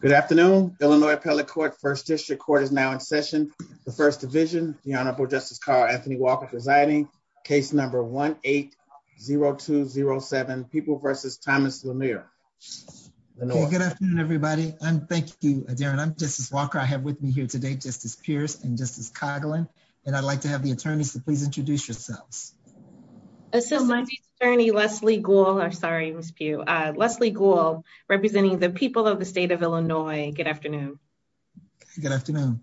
Good afternoon, Illinois Appellate Court, 1st District Court is now in session. The First Division, the Honorable Justice Carl Anthony Walker presiding, case number 1-8-0207, People v. Thomas Lemire. Good afternoon, everybody. Thank you, Darren. I'm Justice Walker. I have with me here today Justice Pierce and Justice Coghlan, and I'd like to have the attorneys to please introduce yourselves. My name is Attorney Leslie Gould, representing the people of the state of Illinois. Good afternoon. Good afternoon.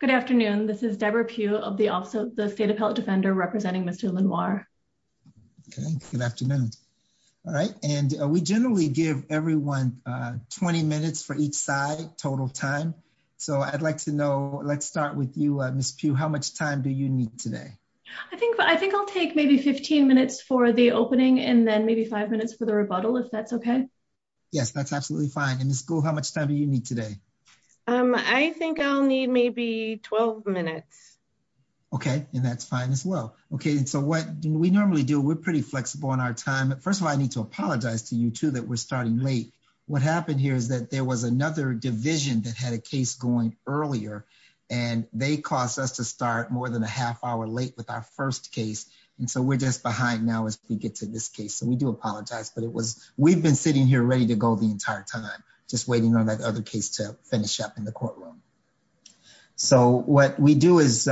Good afternoon. This is Debra Pugh of the State Appellate Defender representing Ms. DuLanoir. Good afternoon. All right. And we generally give everyone 20 minutes for each side, total time. So I'd like to know, let's start with you, Ms. Pugh. How much time do you need today? I think I'll take maybe 15 minutes for the opening and then maybe five minutes for the rebuttal, if that's OK. Yes, that's absolutely fine. And Ms. Gould, how much time do you need today? I think I'll need maybe 12 minutes. OK, and that's fine as well. OK, so what we normally do, we're pretty flexible on our time. First of all, I need to apologize to you, too, that we're starting late. What happened here is that there was another division that had a case going earlier, and they caused us to start more than a half hour late with our first case. And so we're just behind now as we get to this case. So we do apologize. But it was we've been sitting here ready to go the entire time, just waiting on that other case to finish up in the courtroom. So what we do is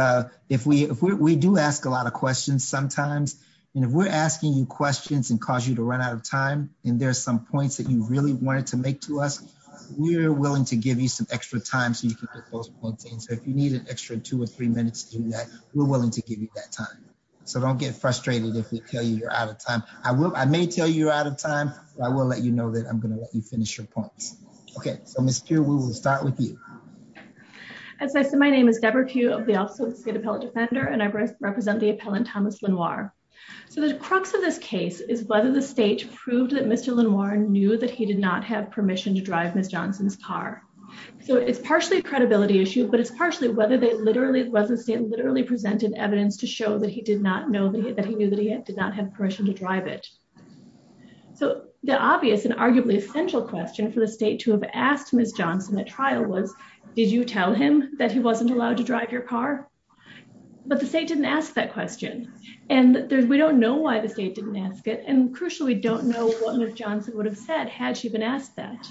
if we if we do ask a lot of questions sometimes, and if we're asking you questions and cause you to run out of time and there are some points that you really wanted to make to us, we're willing to give you some extra time so you can get those points in. So if you need an extra two or three minutes to do that, we're willing to give you that time. So don't get frustrated if we tell you you're out of time. I will. I may tell you you're out of time. I will let you know that I'm going to let you finish your points. OK, so, Ms. Gould, we will start with you. As I said, my name is Deborah Gould of the Office of the State Appellate Defender, and I represent the appellant, Thomas Lenoir. So the crux of this case is whether the state proved that Mr. Lenoir knew that he did not have permission to drive Ms. Johnson's car. So it's partially a credibility issue, but it's partially whether they literally, whether the state literally presented evidence to show that he did not know that he knew that he did not have permission to drive it. So the obvious and arguably essential question for the state to have asked Ms. Johnson at trial was, did you tell him that he wasn't allowed to drive your car? But the state didn't ask that question, and we don't know why the state didn't ask it. And crucially, we don't know what Ms. Johnson would have said had she been asked that.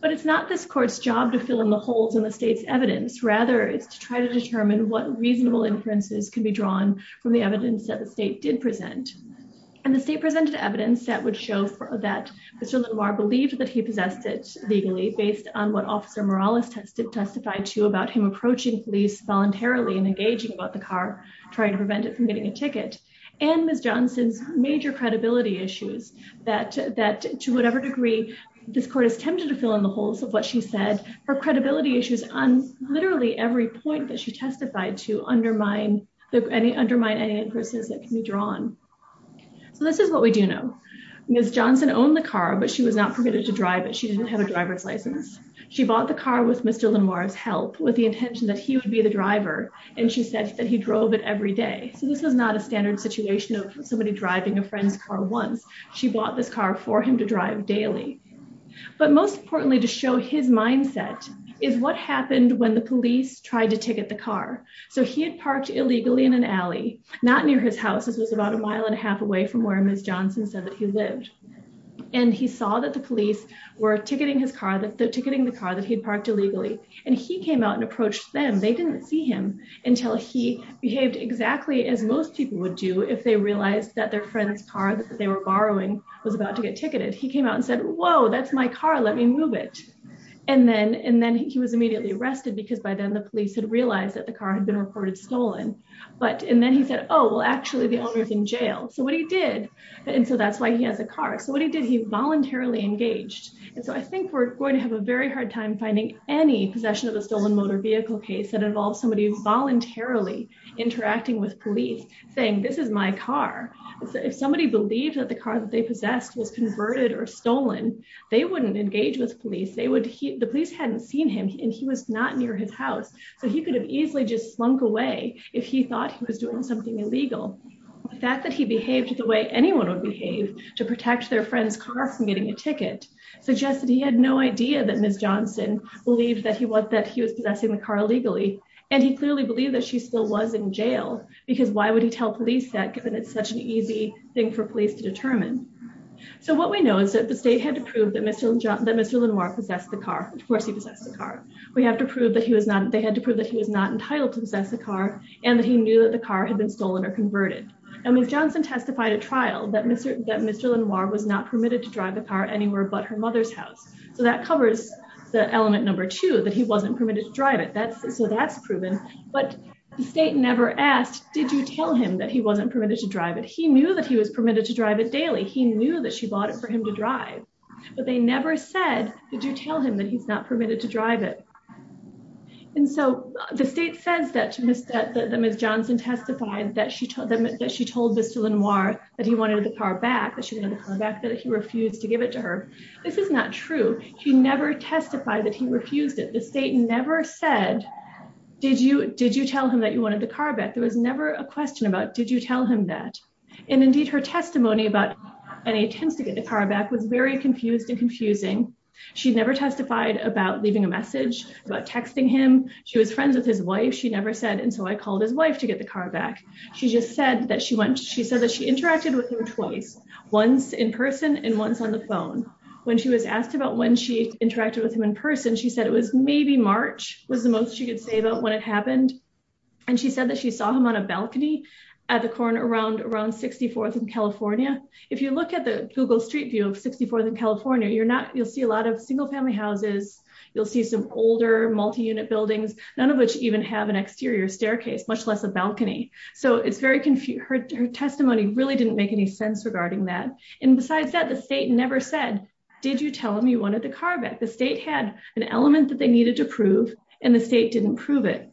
But it's not this court's job to fill in the holes in the state's evidence. Rather, it's to try to determine what reasonable inferences can be drawn from the evidence that the state did present. And the state presented evidence that would show that Mr. Lenoir believed that he possessed it legally based on what Officer Morales testified to about him approaching police voluntarily and engaging about the car, trying to prevent it from getting a ticket. And Ms. Johnson's major credibility issues, that to whatever degree this court is tempted to fill in the holes of what she said, her credibility issues on literally every point that she testified to undermine any inferences that can be drawn. So this is what we do know. Ms. Johnson owned the car, but she was not permitted to drive it. She bought the car with Mr. Lenoir's help with the intention that he would be the driver. And she said that he drove it every day. So this is not a standard situation of somebody driving a friend's car once. She bought this car for him to drive daily. But most importantly, to show his mindset is what happened when the police tried to ticket the car. So he had parked illegally in an alley not near his house. This was about a mile and a half away from where Ms. Johnson said that he lived. And he saw that the police were ticketing his car, ticketing the car that he'd parked illegally. And he came out and approached them. They didn't see him until he behaved exactly as most people would do if they realized that their friend's car that they were borrowing was about to get ticketed. He came out and said, whoa, that's my car. Let me move it. And then and then he was immediately arrested because by then the police had realized that the car had been reported stolen. But and then he said, oh, well, actually, the owner's in jail. So what he did. And so that's why he has a car. So what he did, he voluntarily engaged. And so I think we're going to have a very hard time finding any possession of a stolen motor vehicle case that involves somebody voluntarily interacting with police saying this is my car. If somebody believed that the car that they possessed was converted or stolen, they wouldn't engage with police. They would. The police hadn't seen him and he was not near his house. So he could have easily just slunk away if he thought he was doing something illegal. The fact that he behaved the way anyone would behave to protect their friend's car from getting a ticket suggested he had no idea that Ms. Johnson believed that he was that he was possessing the car illegally. And he clearly believed that she still was in jail, because why would he tell police that? Given it's such an easy thing for police to determine. So what we know is that the state had to prove that Mr. that Mr. Lenoir possessed the car. Of course, he possessed the car. We have to prove that he was not they had to prove that he was not entitled to possess the car and that he knew that the car had been stolen or converted. And Ms. Johnson testified at trial that Mr. that Mr. Lenoir was not permitted to drive the car anywhere but her mother's house. So that covers the element number two, that he wasn't permitted to drive it. So that's proven. But the state never asked, did you tell him that he wasn't permitted to drive it? He knew that he was permitted to drive it daily. He knew that she bought it for him to drive. But they never said, did you tell him that he's not permitted to drive it? And so the state says that to Mr. that Ms. Johnson testified that she told them that she told Mr. Lenoir that he wanted the car back, that she wanted the car back, that he refused to give it to her. This is not true. She never testified that he refused it. The state never said, did you did you tell him that you wanted the car back? There was never a question about, did you tell him that? And indeed, her testimony about any attempts to get the car back was very confused and confusing. She never testified about leaving a message about texting him. She was friends with his wife. She never said. And so I called his wife to get the car back. She just said that she went. She said that she interacted with him twice, once in person and once on the phone. When she was asked about when she interacted with him in person, she said it was maybe March was the most she could say about what had happened. And she said that she saw him on a balcony at the corner around around 64th in California. If you look at the Google Street View of 64th in California, you're not you'll see a lot of single family houses. You'll see some older multiunit buildings, none of which even have an exterior staircase, much less a balcony. So it's very confused. Her testimony really didn't make any sense regarding that. And besides that, the state never said, did you tell him you wanted the car back? The state had an element that they needed to prove and the state didn't prove it.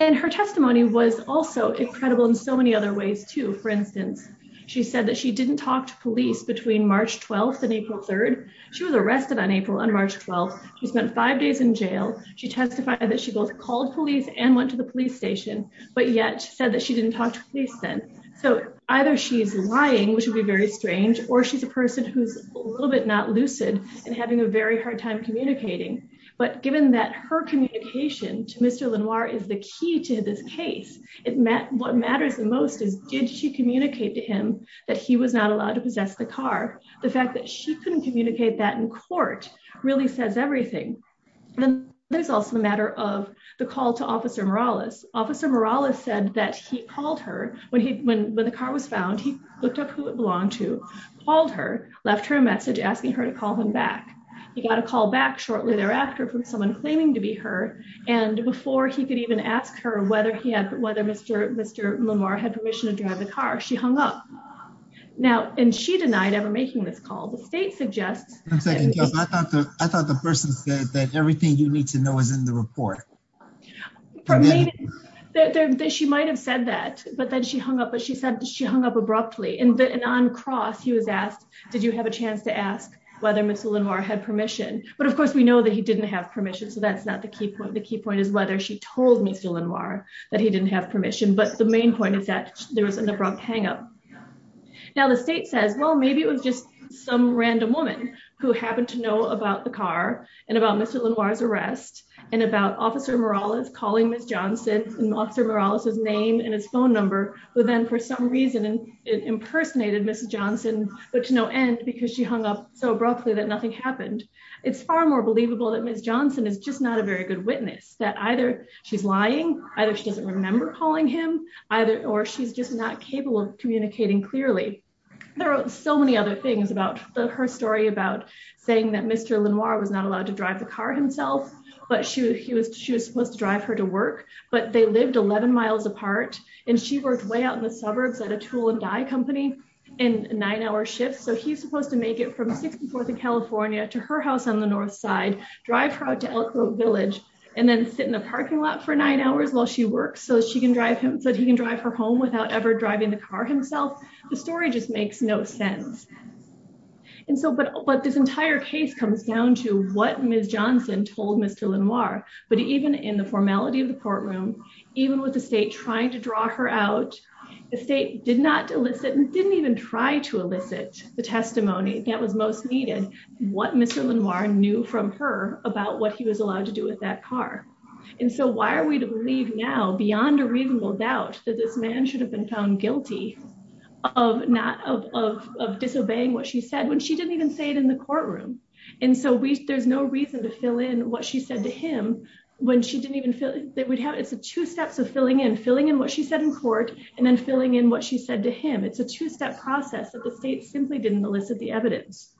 And her testimony was also incredible in so many other ways, too. For instance, she said that she didn't talk to police between March 12th and April 3rd. She was arrested on April and March 12th. She spent five days in jail. She testified that she both called police and went to the police station, but yet said that she didn't talk to police then. So either she's lying, which would be very strange, or she's a person who's a little bit not lucid and having a very hard time communicating. But given that her communication to Mr. Lenoir is the key to this case, what matters the most is, did she communicate to him that he was not allowed to possess the car? The fact that she couldn't communicate that in court really says everything. Then there's also the matter of the call to Officer Morales. Officer Morales said that he called her when the car was found. He looked up who it belonged to, called her, left her a message asking her to call him back. He got a call back shortly thereafter from someone claiming to be her. And before he could even ask her whether Mr. Lenoir had permission to drive the car, she hung up. Now, and she denied ever making this call. The state suggests... I thought the person said that everything you need to know is in the report. She might have said that, but then she hung up, but she said she hung up abruptly. And on cross, he was asked, did you have a chance to ask whether Mr. Lenoir had permission? But, of course, we know that he didn't have permission, so that's not the key point. The key point is whether she told Mr. Lenoir that he didn't have permission. But the main point is that there was an abrupt hang up. Now, the state says, well, maybe it was just some random woman who happened to know about the car and about Mr. Lenoir's arrest and about Officer Morales calling Ms. Johnson and Officer Morales' name and his phone number, but then for some reason impersonated Ms. Johnson, but to no end because she hung up so abruptly that nothing happened. It's far more believable that Ms. Johnson is just not a very good witness, that either she's lying, either she doesn't remember calling him, or she's just not capable of communicating clearly. There are so many other things about her story, about saying that Mr. Lenoir was not allowed to drive the car himself, but she was supposed to drive her to work, but they lived 11 miles apart, and she worked way out in the suburbs at a tool and dye company in nine-hour shifts. So he's supposed to make it from 64th and California to her house on the north side, drive her out to Elk Grove Village, and then sit in the parking lot for nine hours while she works so that he can drive her home without ever driving the car himself. The story just makes no sense. But this entire case comes down to what Ms. Johnson told Mr. Lenoir, but even in the formality of the courtroom, even with the state trying to draw her out, the state did not elicit and didn't even try to elicit the testimony that was most needed, what Mr. Lenoir knew from her about what he was allowed to do with that car. And so why are we to believe now, beyond a reasonable doubt, that this man should have been found guilty of disobeying what she said when she didn't even say it in the courtroom? And so there's no reason to fill in what she said to him when she didn't even fill in. It's the two steps of filling in, filling in what she said in court and then filling in what she said to him. It's a two-step process that the state simply didn't elicit the evidence.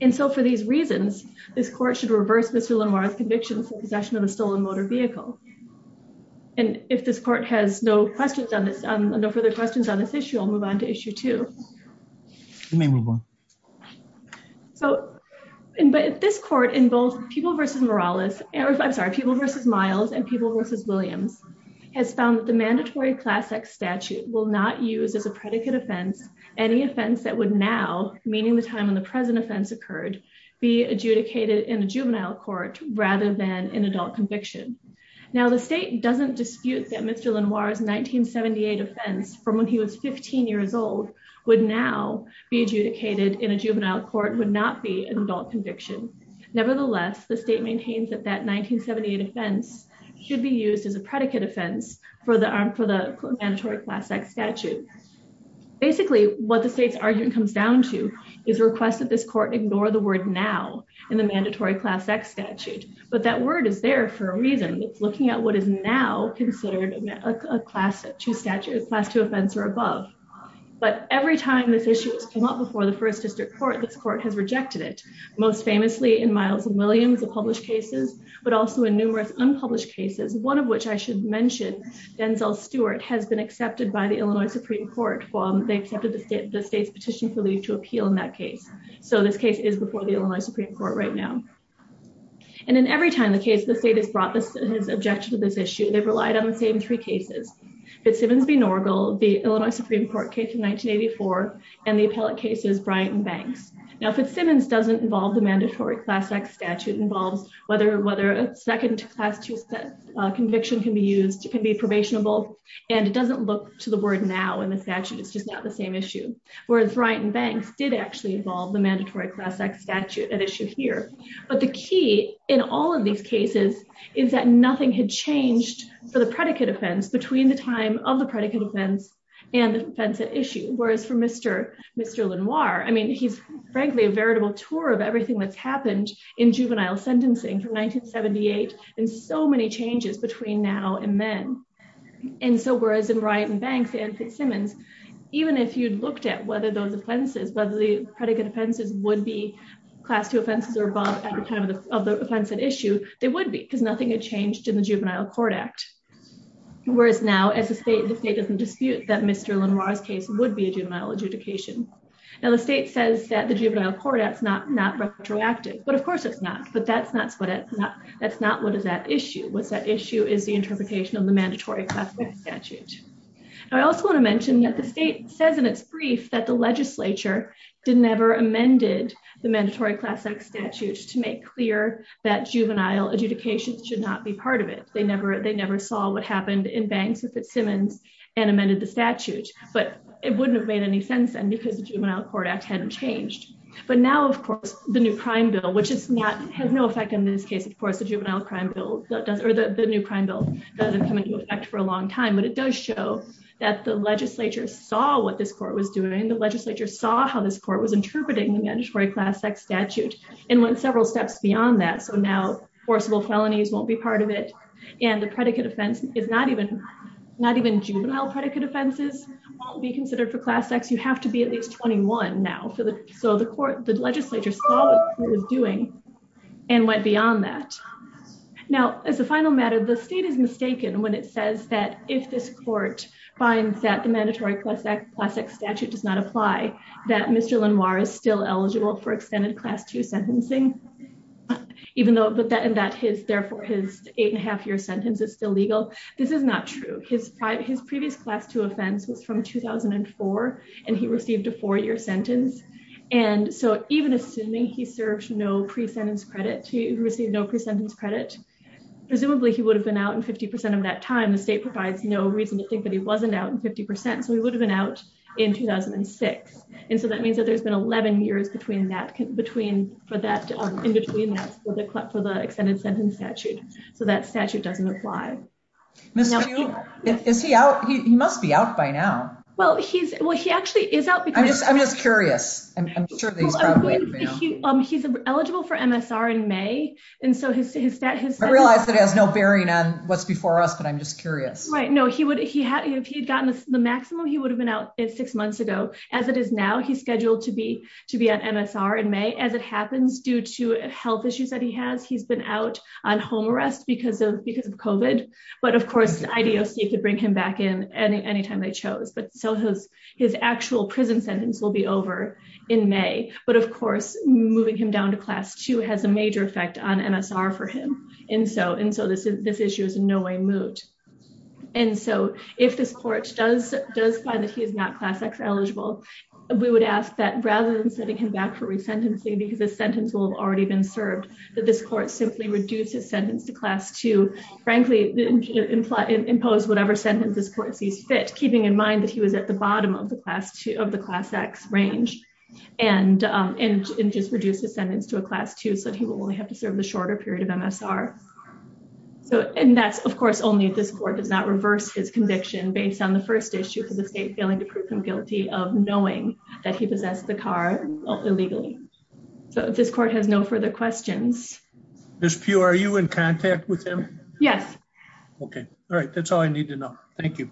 And so for these reasons, this court should reverse Mr. Lenoir's conviction for possession of a stolen motor vehicle. And if this court has no further questions on this issue, I'll move on to issue two. You may move on. So this court in both people versus Morales, I'm sorry, people versus Miles and people versus Williams, has found the mandatory class X statute will not use as a predicate offense any offense that would now, meaning the time when the present offense occurred, be adjudicated in a juvenile court rather than an adult conviction. Now, the state doesn't dispute that Mr. Lenoir's 1978 offense from when he was 15 years old would now be adjudicated in a juvenile court, would not be an adult conviction. Nevertheless, the state maintains that that 1978 offense should be used as a predicate offense for the mandatory class X statute. Basically, what the state's argument comes down to is a request that this court ignore the word now in the mandatory class X statute. But that word is there for a reason. It's looking at what is now considered a class two offense or above. But every time this issue has come up before the first district court, this court has rejected it. Most famously in Miles and Williams, the published cases, but also in numerous unpublished cases, one of which I should mention, Denzel Stewart, has been accepted by the Illinois Supreme Court. They accepted the state's petition for leave to appeal in that case. So this case is before the Illinois Supreme Court right now. And in every time the case the state has brought this objection to this issue, they've relied on the same three cases. Fitzsimmons v. Norgal, the Illinois Supreme Court case in 1984, and the appellate cases Bryant and Banks. Now, Fitzsimmons doesn't involve the mandatory class X statute, involves whether a second class two conviction can be used, can be probationable, and it doesn't look to the word now in the statute. It's just not the same issue. Whereas Bryant and Banks did actually involve the mandatory class X statute at issue here. But the key in all of these cases is that nothing had changed for the predicate offense between the time of the predicate offense and the offense at issue. Whereas for Mr. Mr. Lenoir, I mean, he's frankly a veritable tour of everything that's happened in juvenile sentencing from 1978 and so many changes between now and then. And so whereas in Bryant and Banks and Fitzsimmons, even if you'd looked at whether those offenses, whether the predicate offenses would be class two offenses or above at the time of the offense at issue, they would be because nothing had changed in the Juvenile Court Act. Whereas now as a state, the state doesn't dispute that Mr. Lenoir's case would be a juvenile adjudication. Now the state says that the Juvenile Court Act is not retroactive, but of course it's not, but that's not what it's not, that's not what is that issue. What's that issue is the interpretation of the mandatory class X statute. I also want to mention that the state says in its brief that the legislature did never amended the mandatory class X statute to make clear that juvenile adjudications should not be part of it. They never, they never saw what happened in Banks and Fitzsimmons and amended the statute, but it wouldn't have made any sense then because the Juvenile Court Act hadn't changed. But now, of course, the new crime bill, which is not, has no effect in this case, of course, the juvenile crime bill does, or the new crime bill doesn't come into effect for a long time, but it does show that the legislature saw what this court was doing. The legislature saw how this court was interpreting the mandatory class X statute and went several steps beyond that. So now forcible felonies won't be part of it. And the predicate offense is not even, not even juvenile predicate offenses won't be considered for class X, you have to be at least 21 now for the, so the court, the legislature saw what it was doing and went beyond that. Now, as a final matter, the state is mistaken when it says that if this court finds that the mandatory class X statute does not apply, that Mr. Lenoir is still eligible for extended class two sentencing. Even though, but that, and that his, therefore his eight and a half year sentence is still legal. This is not true. His previous class two offense was from 2004, and he received a four year sentence. And so, even assuming he served no pre-sentence credit, he received no pre-sentence credit, presumably he would have been out in 50% of that time, the state provides no reason to think that he wasn't out in 50%, so he would have been out in 2006. And so that means that there's been 11 years between that, between, for that, in between that, for the extended sentence statute. So that statute doesn't apply. Is he out? He must be out by now. Well, he's, well he actually is out. I'm just, I'm just curious. He's eligible for MSR in May. And so his, I realize that has no bearing on what's before us, but I'm just curious. Right, no, he would, he had, if he had gotten the maximum he would have been out in six months ago, as it is now he's scheduled to be to be in May, but of course, moving him down to class two has a major effect on MSR for him. And so, and so this is this issue is in no way moved. And so, if this court does, does find that he is not class X eligible, we would ask that rather than setting him back for resentencing because the sentence will have already been served, that this court simply reduces sentence to class two, frankly, impose whatever sentence this court sees fit, keeping in mind that he was at the bottom of the class two, of the class X range and, and just reduce the sentence to a class two so that he will only have to serve the shorter period of MSR. So, and that's of course only if this court does not reverse his conviction based on the first issue for the state failing to prove him guilty of knowing that he possessed the car illegally. So if this court has no further questions. There's pure you in contact with him. Yes. Okay. All right, that's all I need to know. Thank you.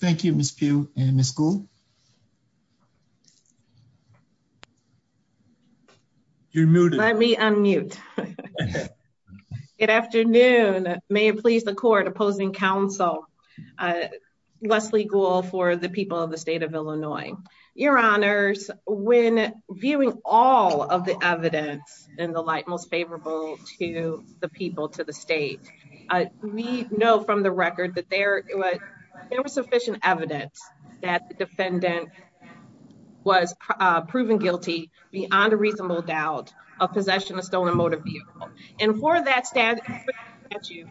Thank you, Miss few in the school. Let me unmute. Good afternoon, may it please the court opposing Council. Leslie goal for the people of the state of Illinois, your honors, when viewing all of the evidence in the light most favorable to the people to the state. We know from the record that there was sufficient evidence that the defendant was proven guilty beyond a reasonable doubt of possession of stolen motor vehicle. And for that stand at you.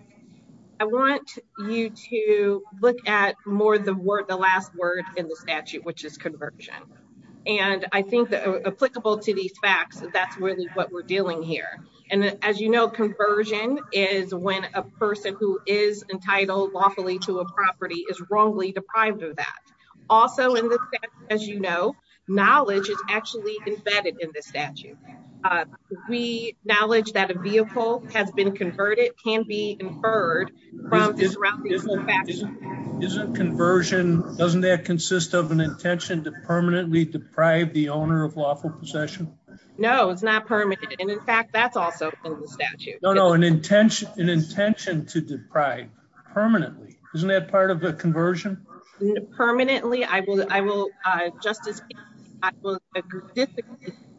I want you to look at more the word the last word in the statute which is conversion. And I think that applicable to these facts, that's really what we're dealing here. And as you know, conversion is when a person who is entitled lawfully to a property is wrongly deprived of that. Also in this, as you know, knowledge is actually embedded in the statute. We knowledge that a vehicle has been converted can be inferred. Isn't conversion, doesn't that consist of an intention to permanently deprive the owner of lawful possession. No, it's not permitted and in fact that's also in the statute. No, no, an intention, an intention to deprive permanently, isn't that part of the conversion. Permanently, I will, I will justice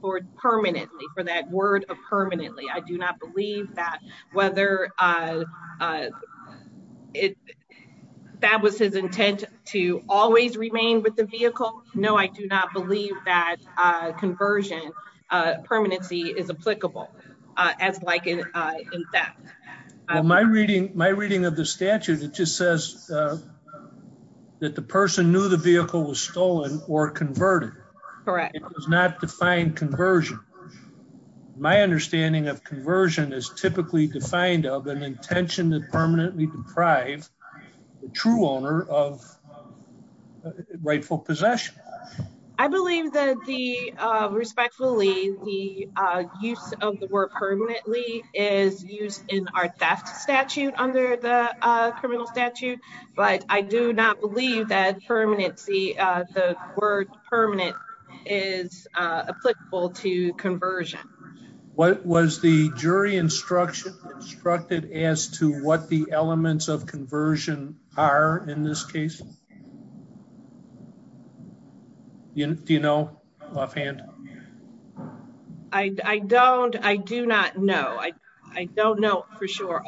for permanently for that word of permanently I do not believe that whether it. That was his intent to always remain with the vehicle. No, I do not believe that conversion permanency is applicable. As like, in fact, my reading, my reading of the statute, it just says that the person knew the vehicle was stolen or converted. Correct. It's not defined conversion. My understanding of conversion is typically defined of an intention to permanently deprive the true owner of rightful possession. I believe that the respectfully the use of the word permanently is used in our theft statute under the criminal statute, but I do not believe that permanency, the word permanent is applicable to conversion. What was the jury instruction instructed as to what the elements of conversion are in this case. You know, offhand. I don't I do not know I don't know for sure.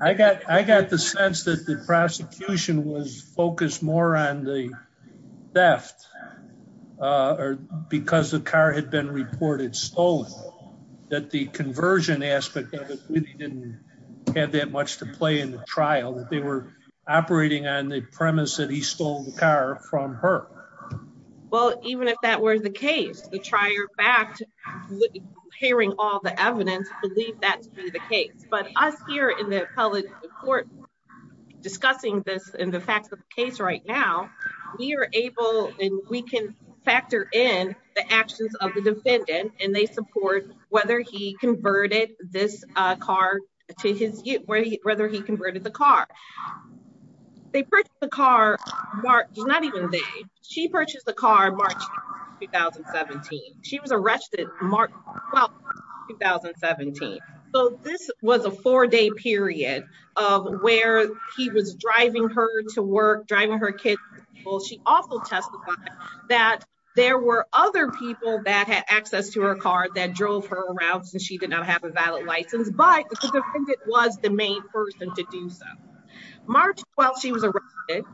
I got, I got the sense that the prosecution was focused more on the theft, or because the car had been reported stolen that the conversion aspect didn't have that much to play in the trial that they were operating on the premise that he stole the car from her. Well, even if that were the case, the trier fact, hearing all the evidence, believe that to be the case, but us here in the appellate court, discussing this in the facts of the case right now, we are able, and we can factor in the actions of the defendant, and they support whether he converted this car to his, whether he converted the car. They put the car mark, not even the, she purchased the car March 2017. She was arrested. Well, 2017, so this was a 4 day period of where he was driving her to work, driving her kid. Well, she also testified that there were other people that had access to her car that drove her around and she did not have a valid license, but it was the main person to do so. March 12, she was arrested.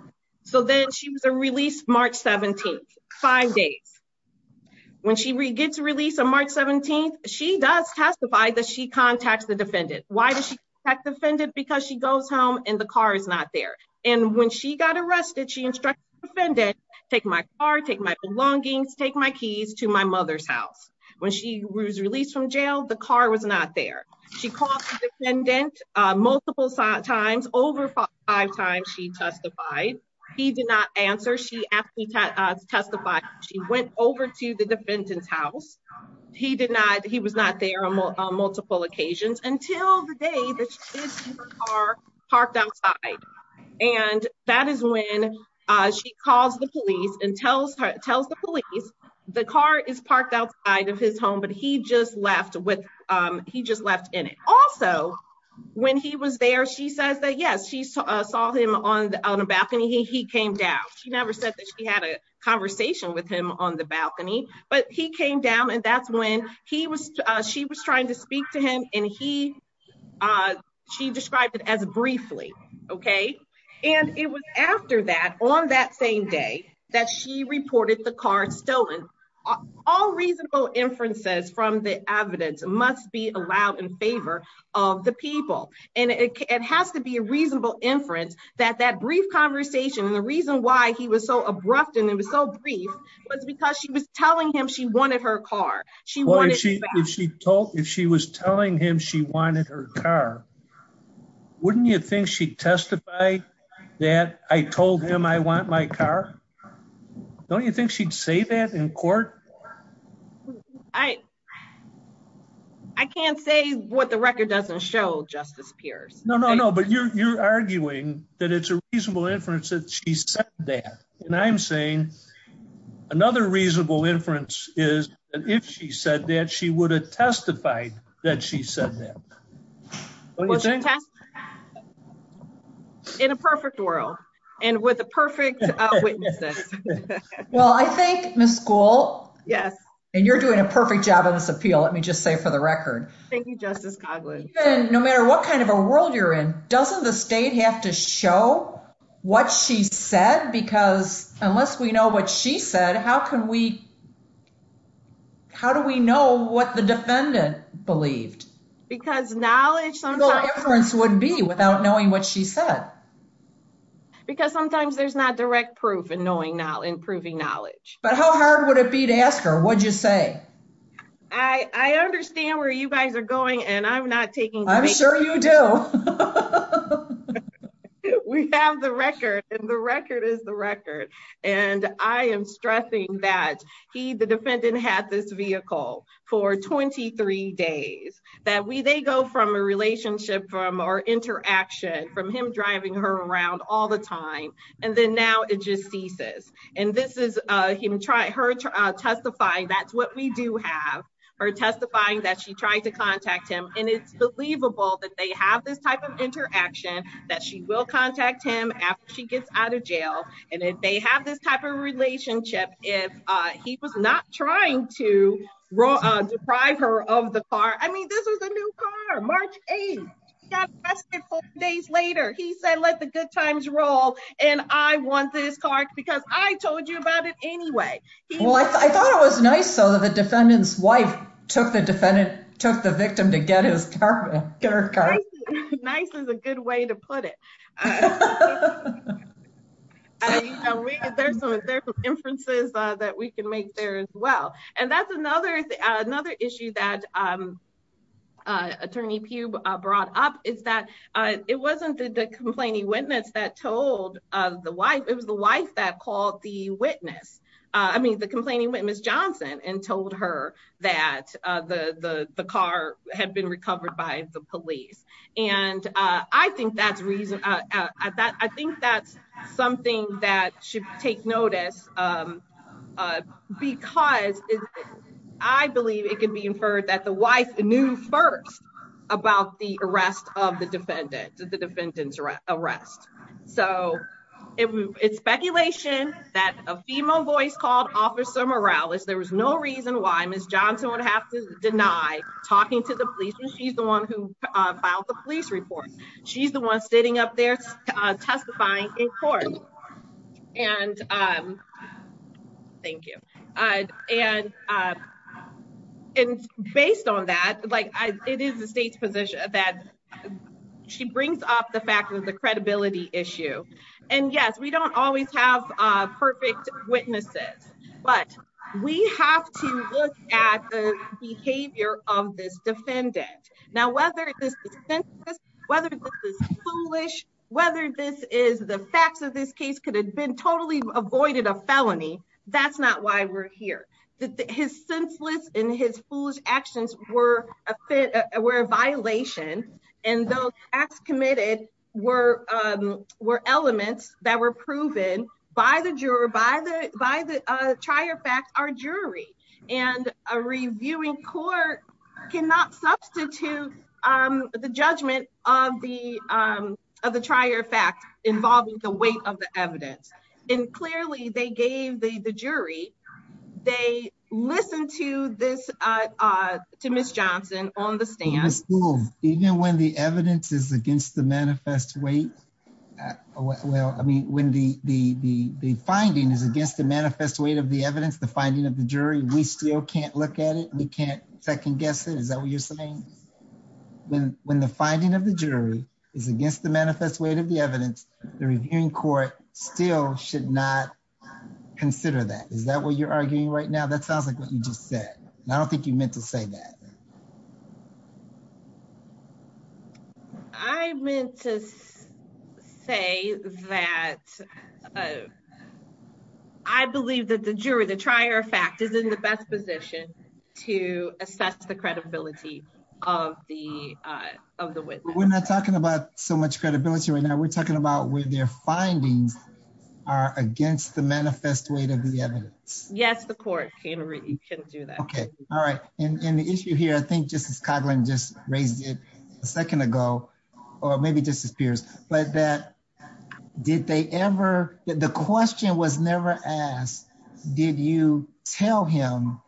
So then she was a release March 17, five days. When she gets released on March 17, she does testify that she contacts the defendant. Why does she have defended because she goes home and the car is not there. And when she got arrested, she instructed offended, take my car, take my belongings, take my keys to my mother's house. When she was released from jail, the car was not there. She called the defendant multiple times over five times. She testified. He did not answer. She asked me to testify. She went over to the defendant's house. He denied that he was not there on multiple occasions until the day that parked outside. And that is when she calls the police and tells her tells the police. The car is parked outside of his home, but he just left with he just left in it. Also, when he was there, she says that yes, she saw him on the balcony. He came down. She never said that she had a conversation with him on the balcony, but he came down and that's when he was she was trying to speak to him and he she described it as briefly. Okay. And it was after that on that same day that she reported the car stolen. All reasonable inferences from the evidence must be allowed in favor of the people. And it has to be a reasonable inference that that brief conversation and the reason why he was so abrupt and it was so brief was because she was telling him she wanted her car. She told if she was telling him she wanted her car. Wouldn't you think she testified that I told him I want my car. Don't you think she'd say that in court. I, I can't say what the record doesn't show justice peers. No, no, no, but you're arguing that it's a reasonable inference that she said that. And I'm saying. Another reasonable inference is if she said that she would have testified that she said that. In a perfect world and with a perfect. Well, I think Miss school. Yes. And you're doing a perfect job of this appeal. Let me just say for the record. Thank you, Justice. No matter what kind of a world you're in, doesn't the state have to show what she said? Because unless we know what she said, how can we. How do we know what the defendant believed because knowledge would be without knowing what she said. Because sometimes there's not direct proof and knowing now improving knowledge, but how hard would it be to ask her? What'd you say? I understand where you guys are going and I'm not taking I'm sure you do. We have the record and the record is the record and I am stressing that he the defendant had this vehicle for 23 days that we they go from a relationship from our interaction from him driving her around all the time. And then now it just ceases. And this is him. Try her to testify. That's what we do have her testifying that she tried to contact him. And it's believable that they have this type of interaction that she will contact him after she gets out of jail. And if they have this type of relationship, if he was not trying to deprive her of the car. I mean, this was a new car. Days later, he said, let the good times roll. And I want this car because I told you about it anyway. Well, I thought it was nice. So the defendant's wife took the defendant took the victim to get his car. Nice is a good way to put it. There's some inferences that we can make there as well. And that's another another issue that attorney brought up is that it wasn't the complaining witness that told the wife. It was the wife that called the witness. I mean, the complaining witness Johnson and told her that the car had been recovered by the police. And I think that's reason that I think that's something that should take notice. Because I believe it could be inferred that the wife knew first about the arrest of the defendant to the defendant's arrest. So it's speculation that a female voice called officer Morales. There was no reason why Miss Johnson would have to deny talking to the police. And she's the one who filed the police report. She's the one sitting up there testifying in court. And thank you. And based on that, like, it is the state's position that she brings up the fact of the credibility issue. And yes, we don't always have perfect witnesses, but we have to look at the behavior of this defendant. Now, whether this is whether this is foolish, whether this is the facts of this case could have been totally avoided a felony. That's not why we're here. His senseless and his foolish actions were a fit were a violation. And those acts committed were were elements that were proven by the juror, by the by the trier fact, our jury and a reviewing court cannot substitute the judgment of the of the trier fact involving the weight of the evidence. And clearly they gave the jury. They listened to this to Miss Johnson on the stand. Even when the evidence is against the manifest weight. Well, I mean, when the the the the finding is against the manifest weight of the evidence, the finding of the jury, we still can't look at it. We can't second guess it. Is that what you're saying? When, when the finding of the jury is against the manifest weight of the evidence, the reviewing court still should not consider that. Is that what you're arguing right now? That sounds like what you just said. I don't think you meant to say that. I meant to say that. I believe that the jury, the trier fact is in the best position to assess the credibility of the of the witness. We're not talking about so much credibility right now. We're talking about where their findings are against the manifest weight of the evidence. Yes, the court can do that. Okay. All right. And the issue here I think just as Coughlin just raised it a second ago, or maybe just as peers, but that did they ever, the question was never asked. Did you tell him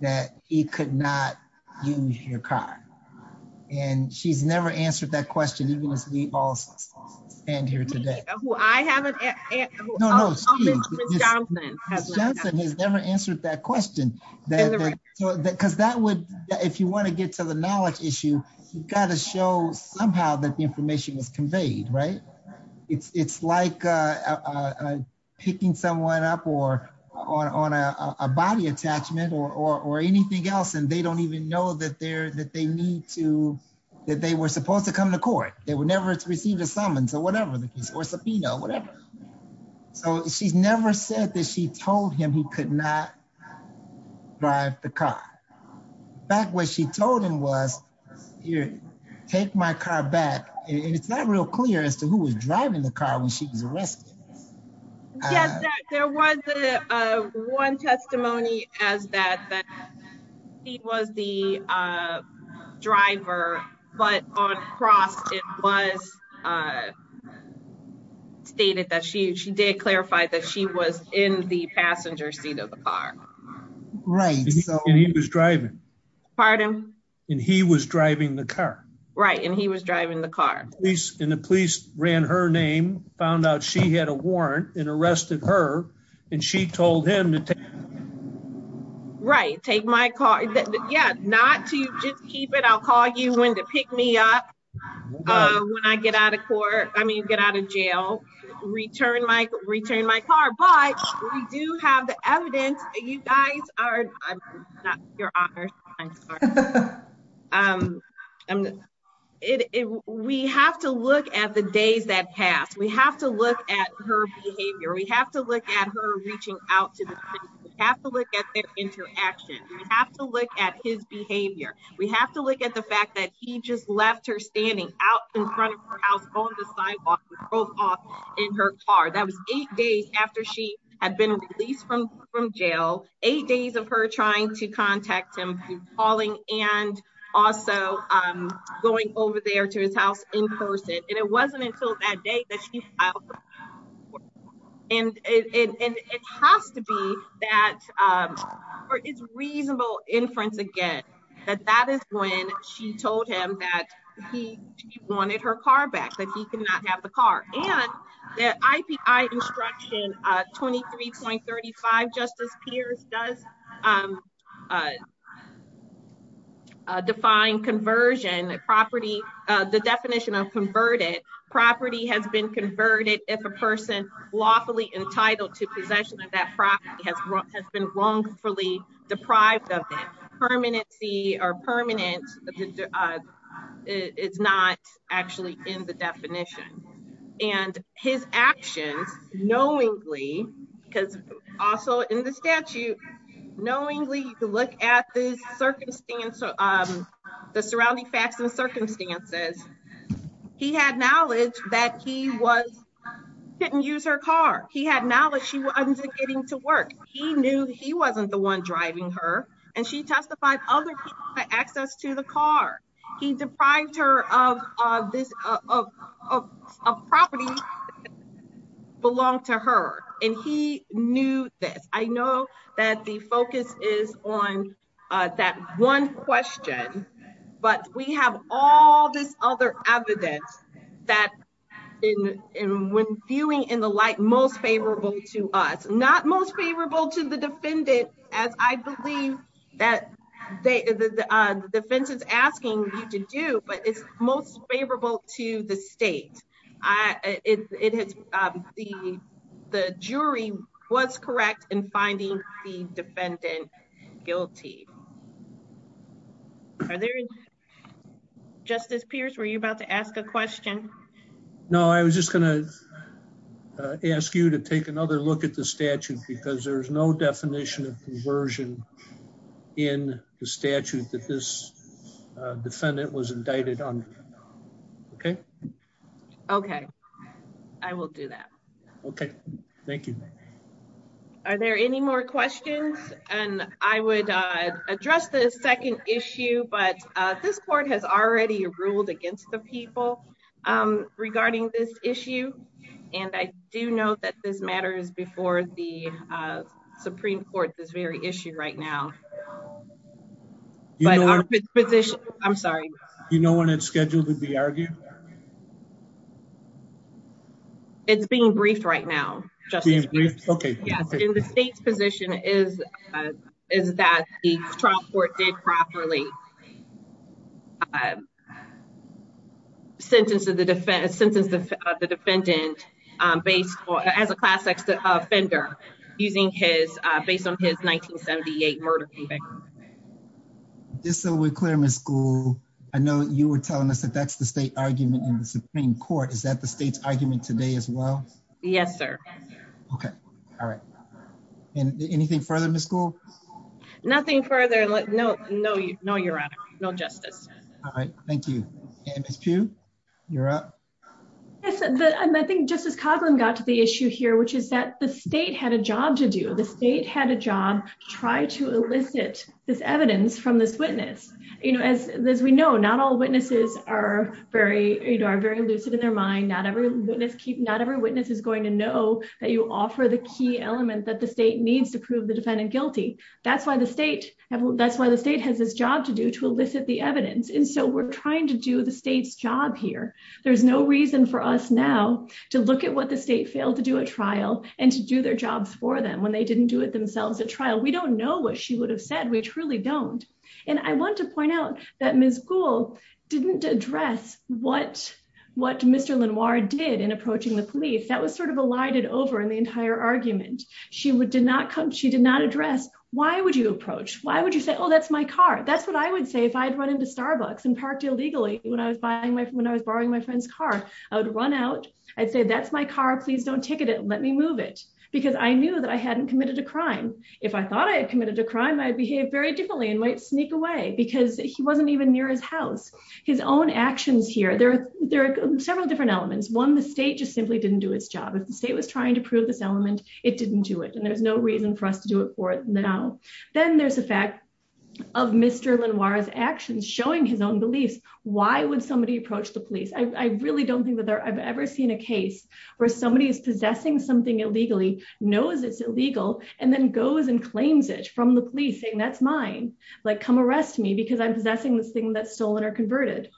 that he could not use your car. And she's never answered that question even as we all stand here today. I haven't answered that question. Because that would, if you want to get to the knowledge issue, you've got to show somehow that the information was conveyed right. It's like picking someone up or on a body attachment or anything else and they don't even know that they're that they need to, that they were supposed to come to court, they were never received a summons or whatever the case or subpoena or whatever. So she's never said that she told him he could not drive the car. Back when she told him was here, take my car back. It's not real clear as to who was driving the car when she was arrested. There was one testimony as that. He was the driver, but on cross was stated that she she did clarify that she was in the passenger seat of the car. Right. He was driving. Pardon. And he was driving the car. Right. And he was driving the car. And the police ran her name found out she had a warrant and arrested her. And she told him to. Right, take my car. Yeah, not to just keep it I'll call you when to pick me up. When I get out of court, I mean get out of jail, return my return my car but we do have the evidence. You guys are your honor. We have to look at the days that pass, we have to look at her behavior. We have to look at her reaching out to have to look at their interaction. We have to look at his behavior. We have to look at the fact that he just left her standing out in front of her house on the sidewalk with both off in her car. That was eight days after she had been released from from jail, eight days of her trying to contact him calling and also going over there to his house in person. And it wasn't until that day that she. And it has to be that is reasonable inference again, that that is when she told him that he wanted her car back that he could not have the car, and the instruction 23.35 justice peers does define conversion property. The definition of converted property has been converted if a person lawfully entitled to possession of that property has been wrongfully deprived of permanency or permanent. It's not actually in the definition, and his actions, knowingly, because also in the statute, knowingly, look at the circumstance of the surrounding facts and circumstances. He had knowledge that he was didn't use her car. He had knowledge she was getting to work. He knew he wasn't the one driving her, and she testified other access to the car. He deprived her of this property. Belong to her, and he knew this. I know that the focus is on that one question, but we have all this other evidence that in when viewing in the light most favorable to us not most favorable to the defendant, as I believe that the defense is asking you to do, but it's most favorable to the state. It is the jury was correct in finding the defendant guilty. Justice Pierce were you about to ask a question. No, I was just gonna ask you to take another look at the statute because there's no definition of conversion in the statute that this defendant was indicted on. Okay, okay, I will do that. Okay. Thank you. Are there any more questions, and I would address the second issue, but this court has already ruled against the people regarding this issue. And I do know that this matters before the Supreme Court this very issue right now. I'm sorry, you know, when it's scheduled to be argued. It's being briefed right now. Okay. Yes. In the state's position is is that the trial court did properly. Sentence of the defense sentence of the defendant based as a class X offender using his based on his 1978 murder. Just so we're clear my school. I know you were telling us that that's the state argument in the Supreme Court is that the state's argument today as well. Yes, sir. Okay. All right. Anything further in the school. Nothing further. No, no, no, you're right. No justice. All right. Thank you. You're up. I think justice Coughlin got to the issue here, which is that the state had a job to do the state had a job, try to elicit this evidence from this witness, you know, as, as we know, not all witnesses are very, very lucid in their mind not every witness keep not every witness is going to know that you offer the key element that the state needs to prove the defendant guilty. That's why the state. That's why the state has this job to do to elicit the evidence and so we're trying to do the state's job here. There's no reason for us now to look at what the state failed to do a trial, and to do their jobs for them when they didn't do it themselves a trial we don't know what she would have said we truly don't. And I want to point out that Miss school didn't address what what Mr. Lenoir did in approaching the police that was sort of a lighted over in the entire argument, she would did not come she did not address, why would you approach, why would you say oh that's my car, that's what I would say if I'd run into Starbucks and parked illegally, when I was buying my when I was borrowing my friend's car, I would run out. I'd say that's my car please don't ticket it let me move it, because I knew that I hadn't committed a crime. If I thought I had committed a crime I behave very differently and might sneak away because he wasn't even near his house, his own actions here there, there are several different elements one the state just simply didn't do its job if the state was trying to prove this element, it didn't do it and there's no reason for us to do it for it now. Then there's the fact of Mr Lenoir his actions showing his own beliefs, why would somebody approach the police I really don't think that I've ever seen a case where somebody is possessing something illegally knows it's illegal, and then goes and claims it from the police saying that's mine, like come arrest me because I'm possessing this thing that's stolen or converted.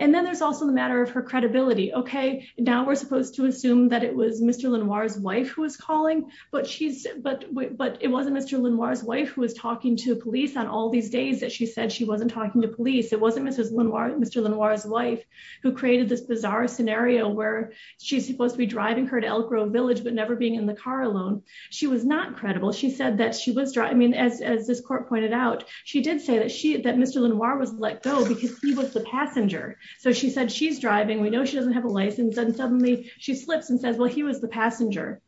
And then there's also the matter of her credibility okay now we're supposed to assume that it was Mr Lenoir his wife who was calling, but she's, but, but it wasn't Mr Lenoir his wife who was talking to police on all these days that she said she wasn't talking to police it wasn't Mrs Lenoir Mr Lenoir his wife, who created this bizarre scenario where she's supposed to be driving her to Elk Grove village but never being in the car alone. She was not credible she said that she was driving as this court pointed out, she did say that she that Mr Lenoir was let go because he was the passenger. So she said she's driving we know she doesn't have a license and suddenly she slips and says well he was the passenger.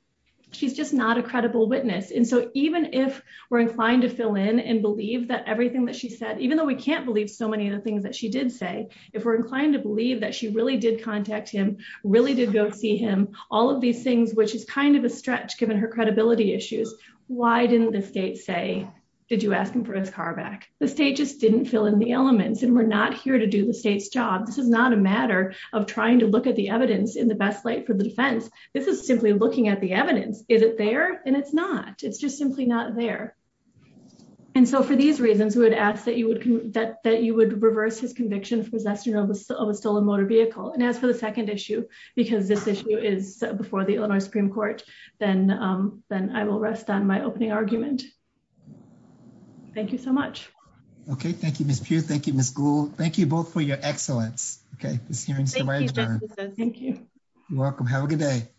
She's just not a credible witness and so even if we're inclined to fill in and believe that everything that she said even though we can't believe so many of the things that she did say, if we're inclined to believe that she really did contact him really did go see him all of these things which is kind of a stretch given her credibility issues. Why didn't the state say, did you ask him for his car back, the state just didn't fill in the elements and we're not here to do the state's job. This is not a matter of trying to look at the evidence in the best light for the defense. This is simply looking at the evidence, is it there, and it's not, it's just simply not there. And so for these reasons we would ask that you would that that you would reverse his conviction for possession of a stolen motor vehicle and as for the second issue, because this issue is before the Illinois Supreme Court, then, then I will rest on my opening argument. Thank you so much. Okay, thank you Miss Pugh, thank you Miss Gould, thank you both for your excellence. Okay, this hearing is adjourned. Thank you. You're welcome. Have a good day.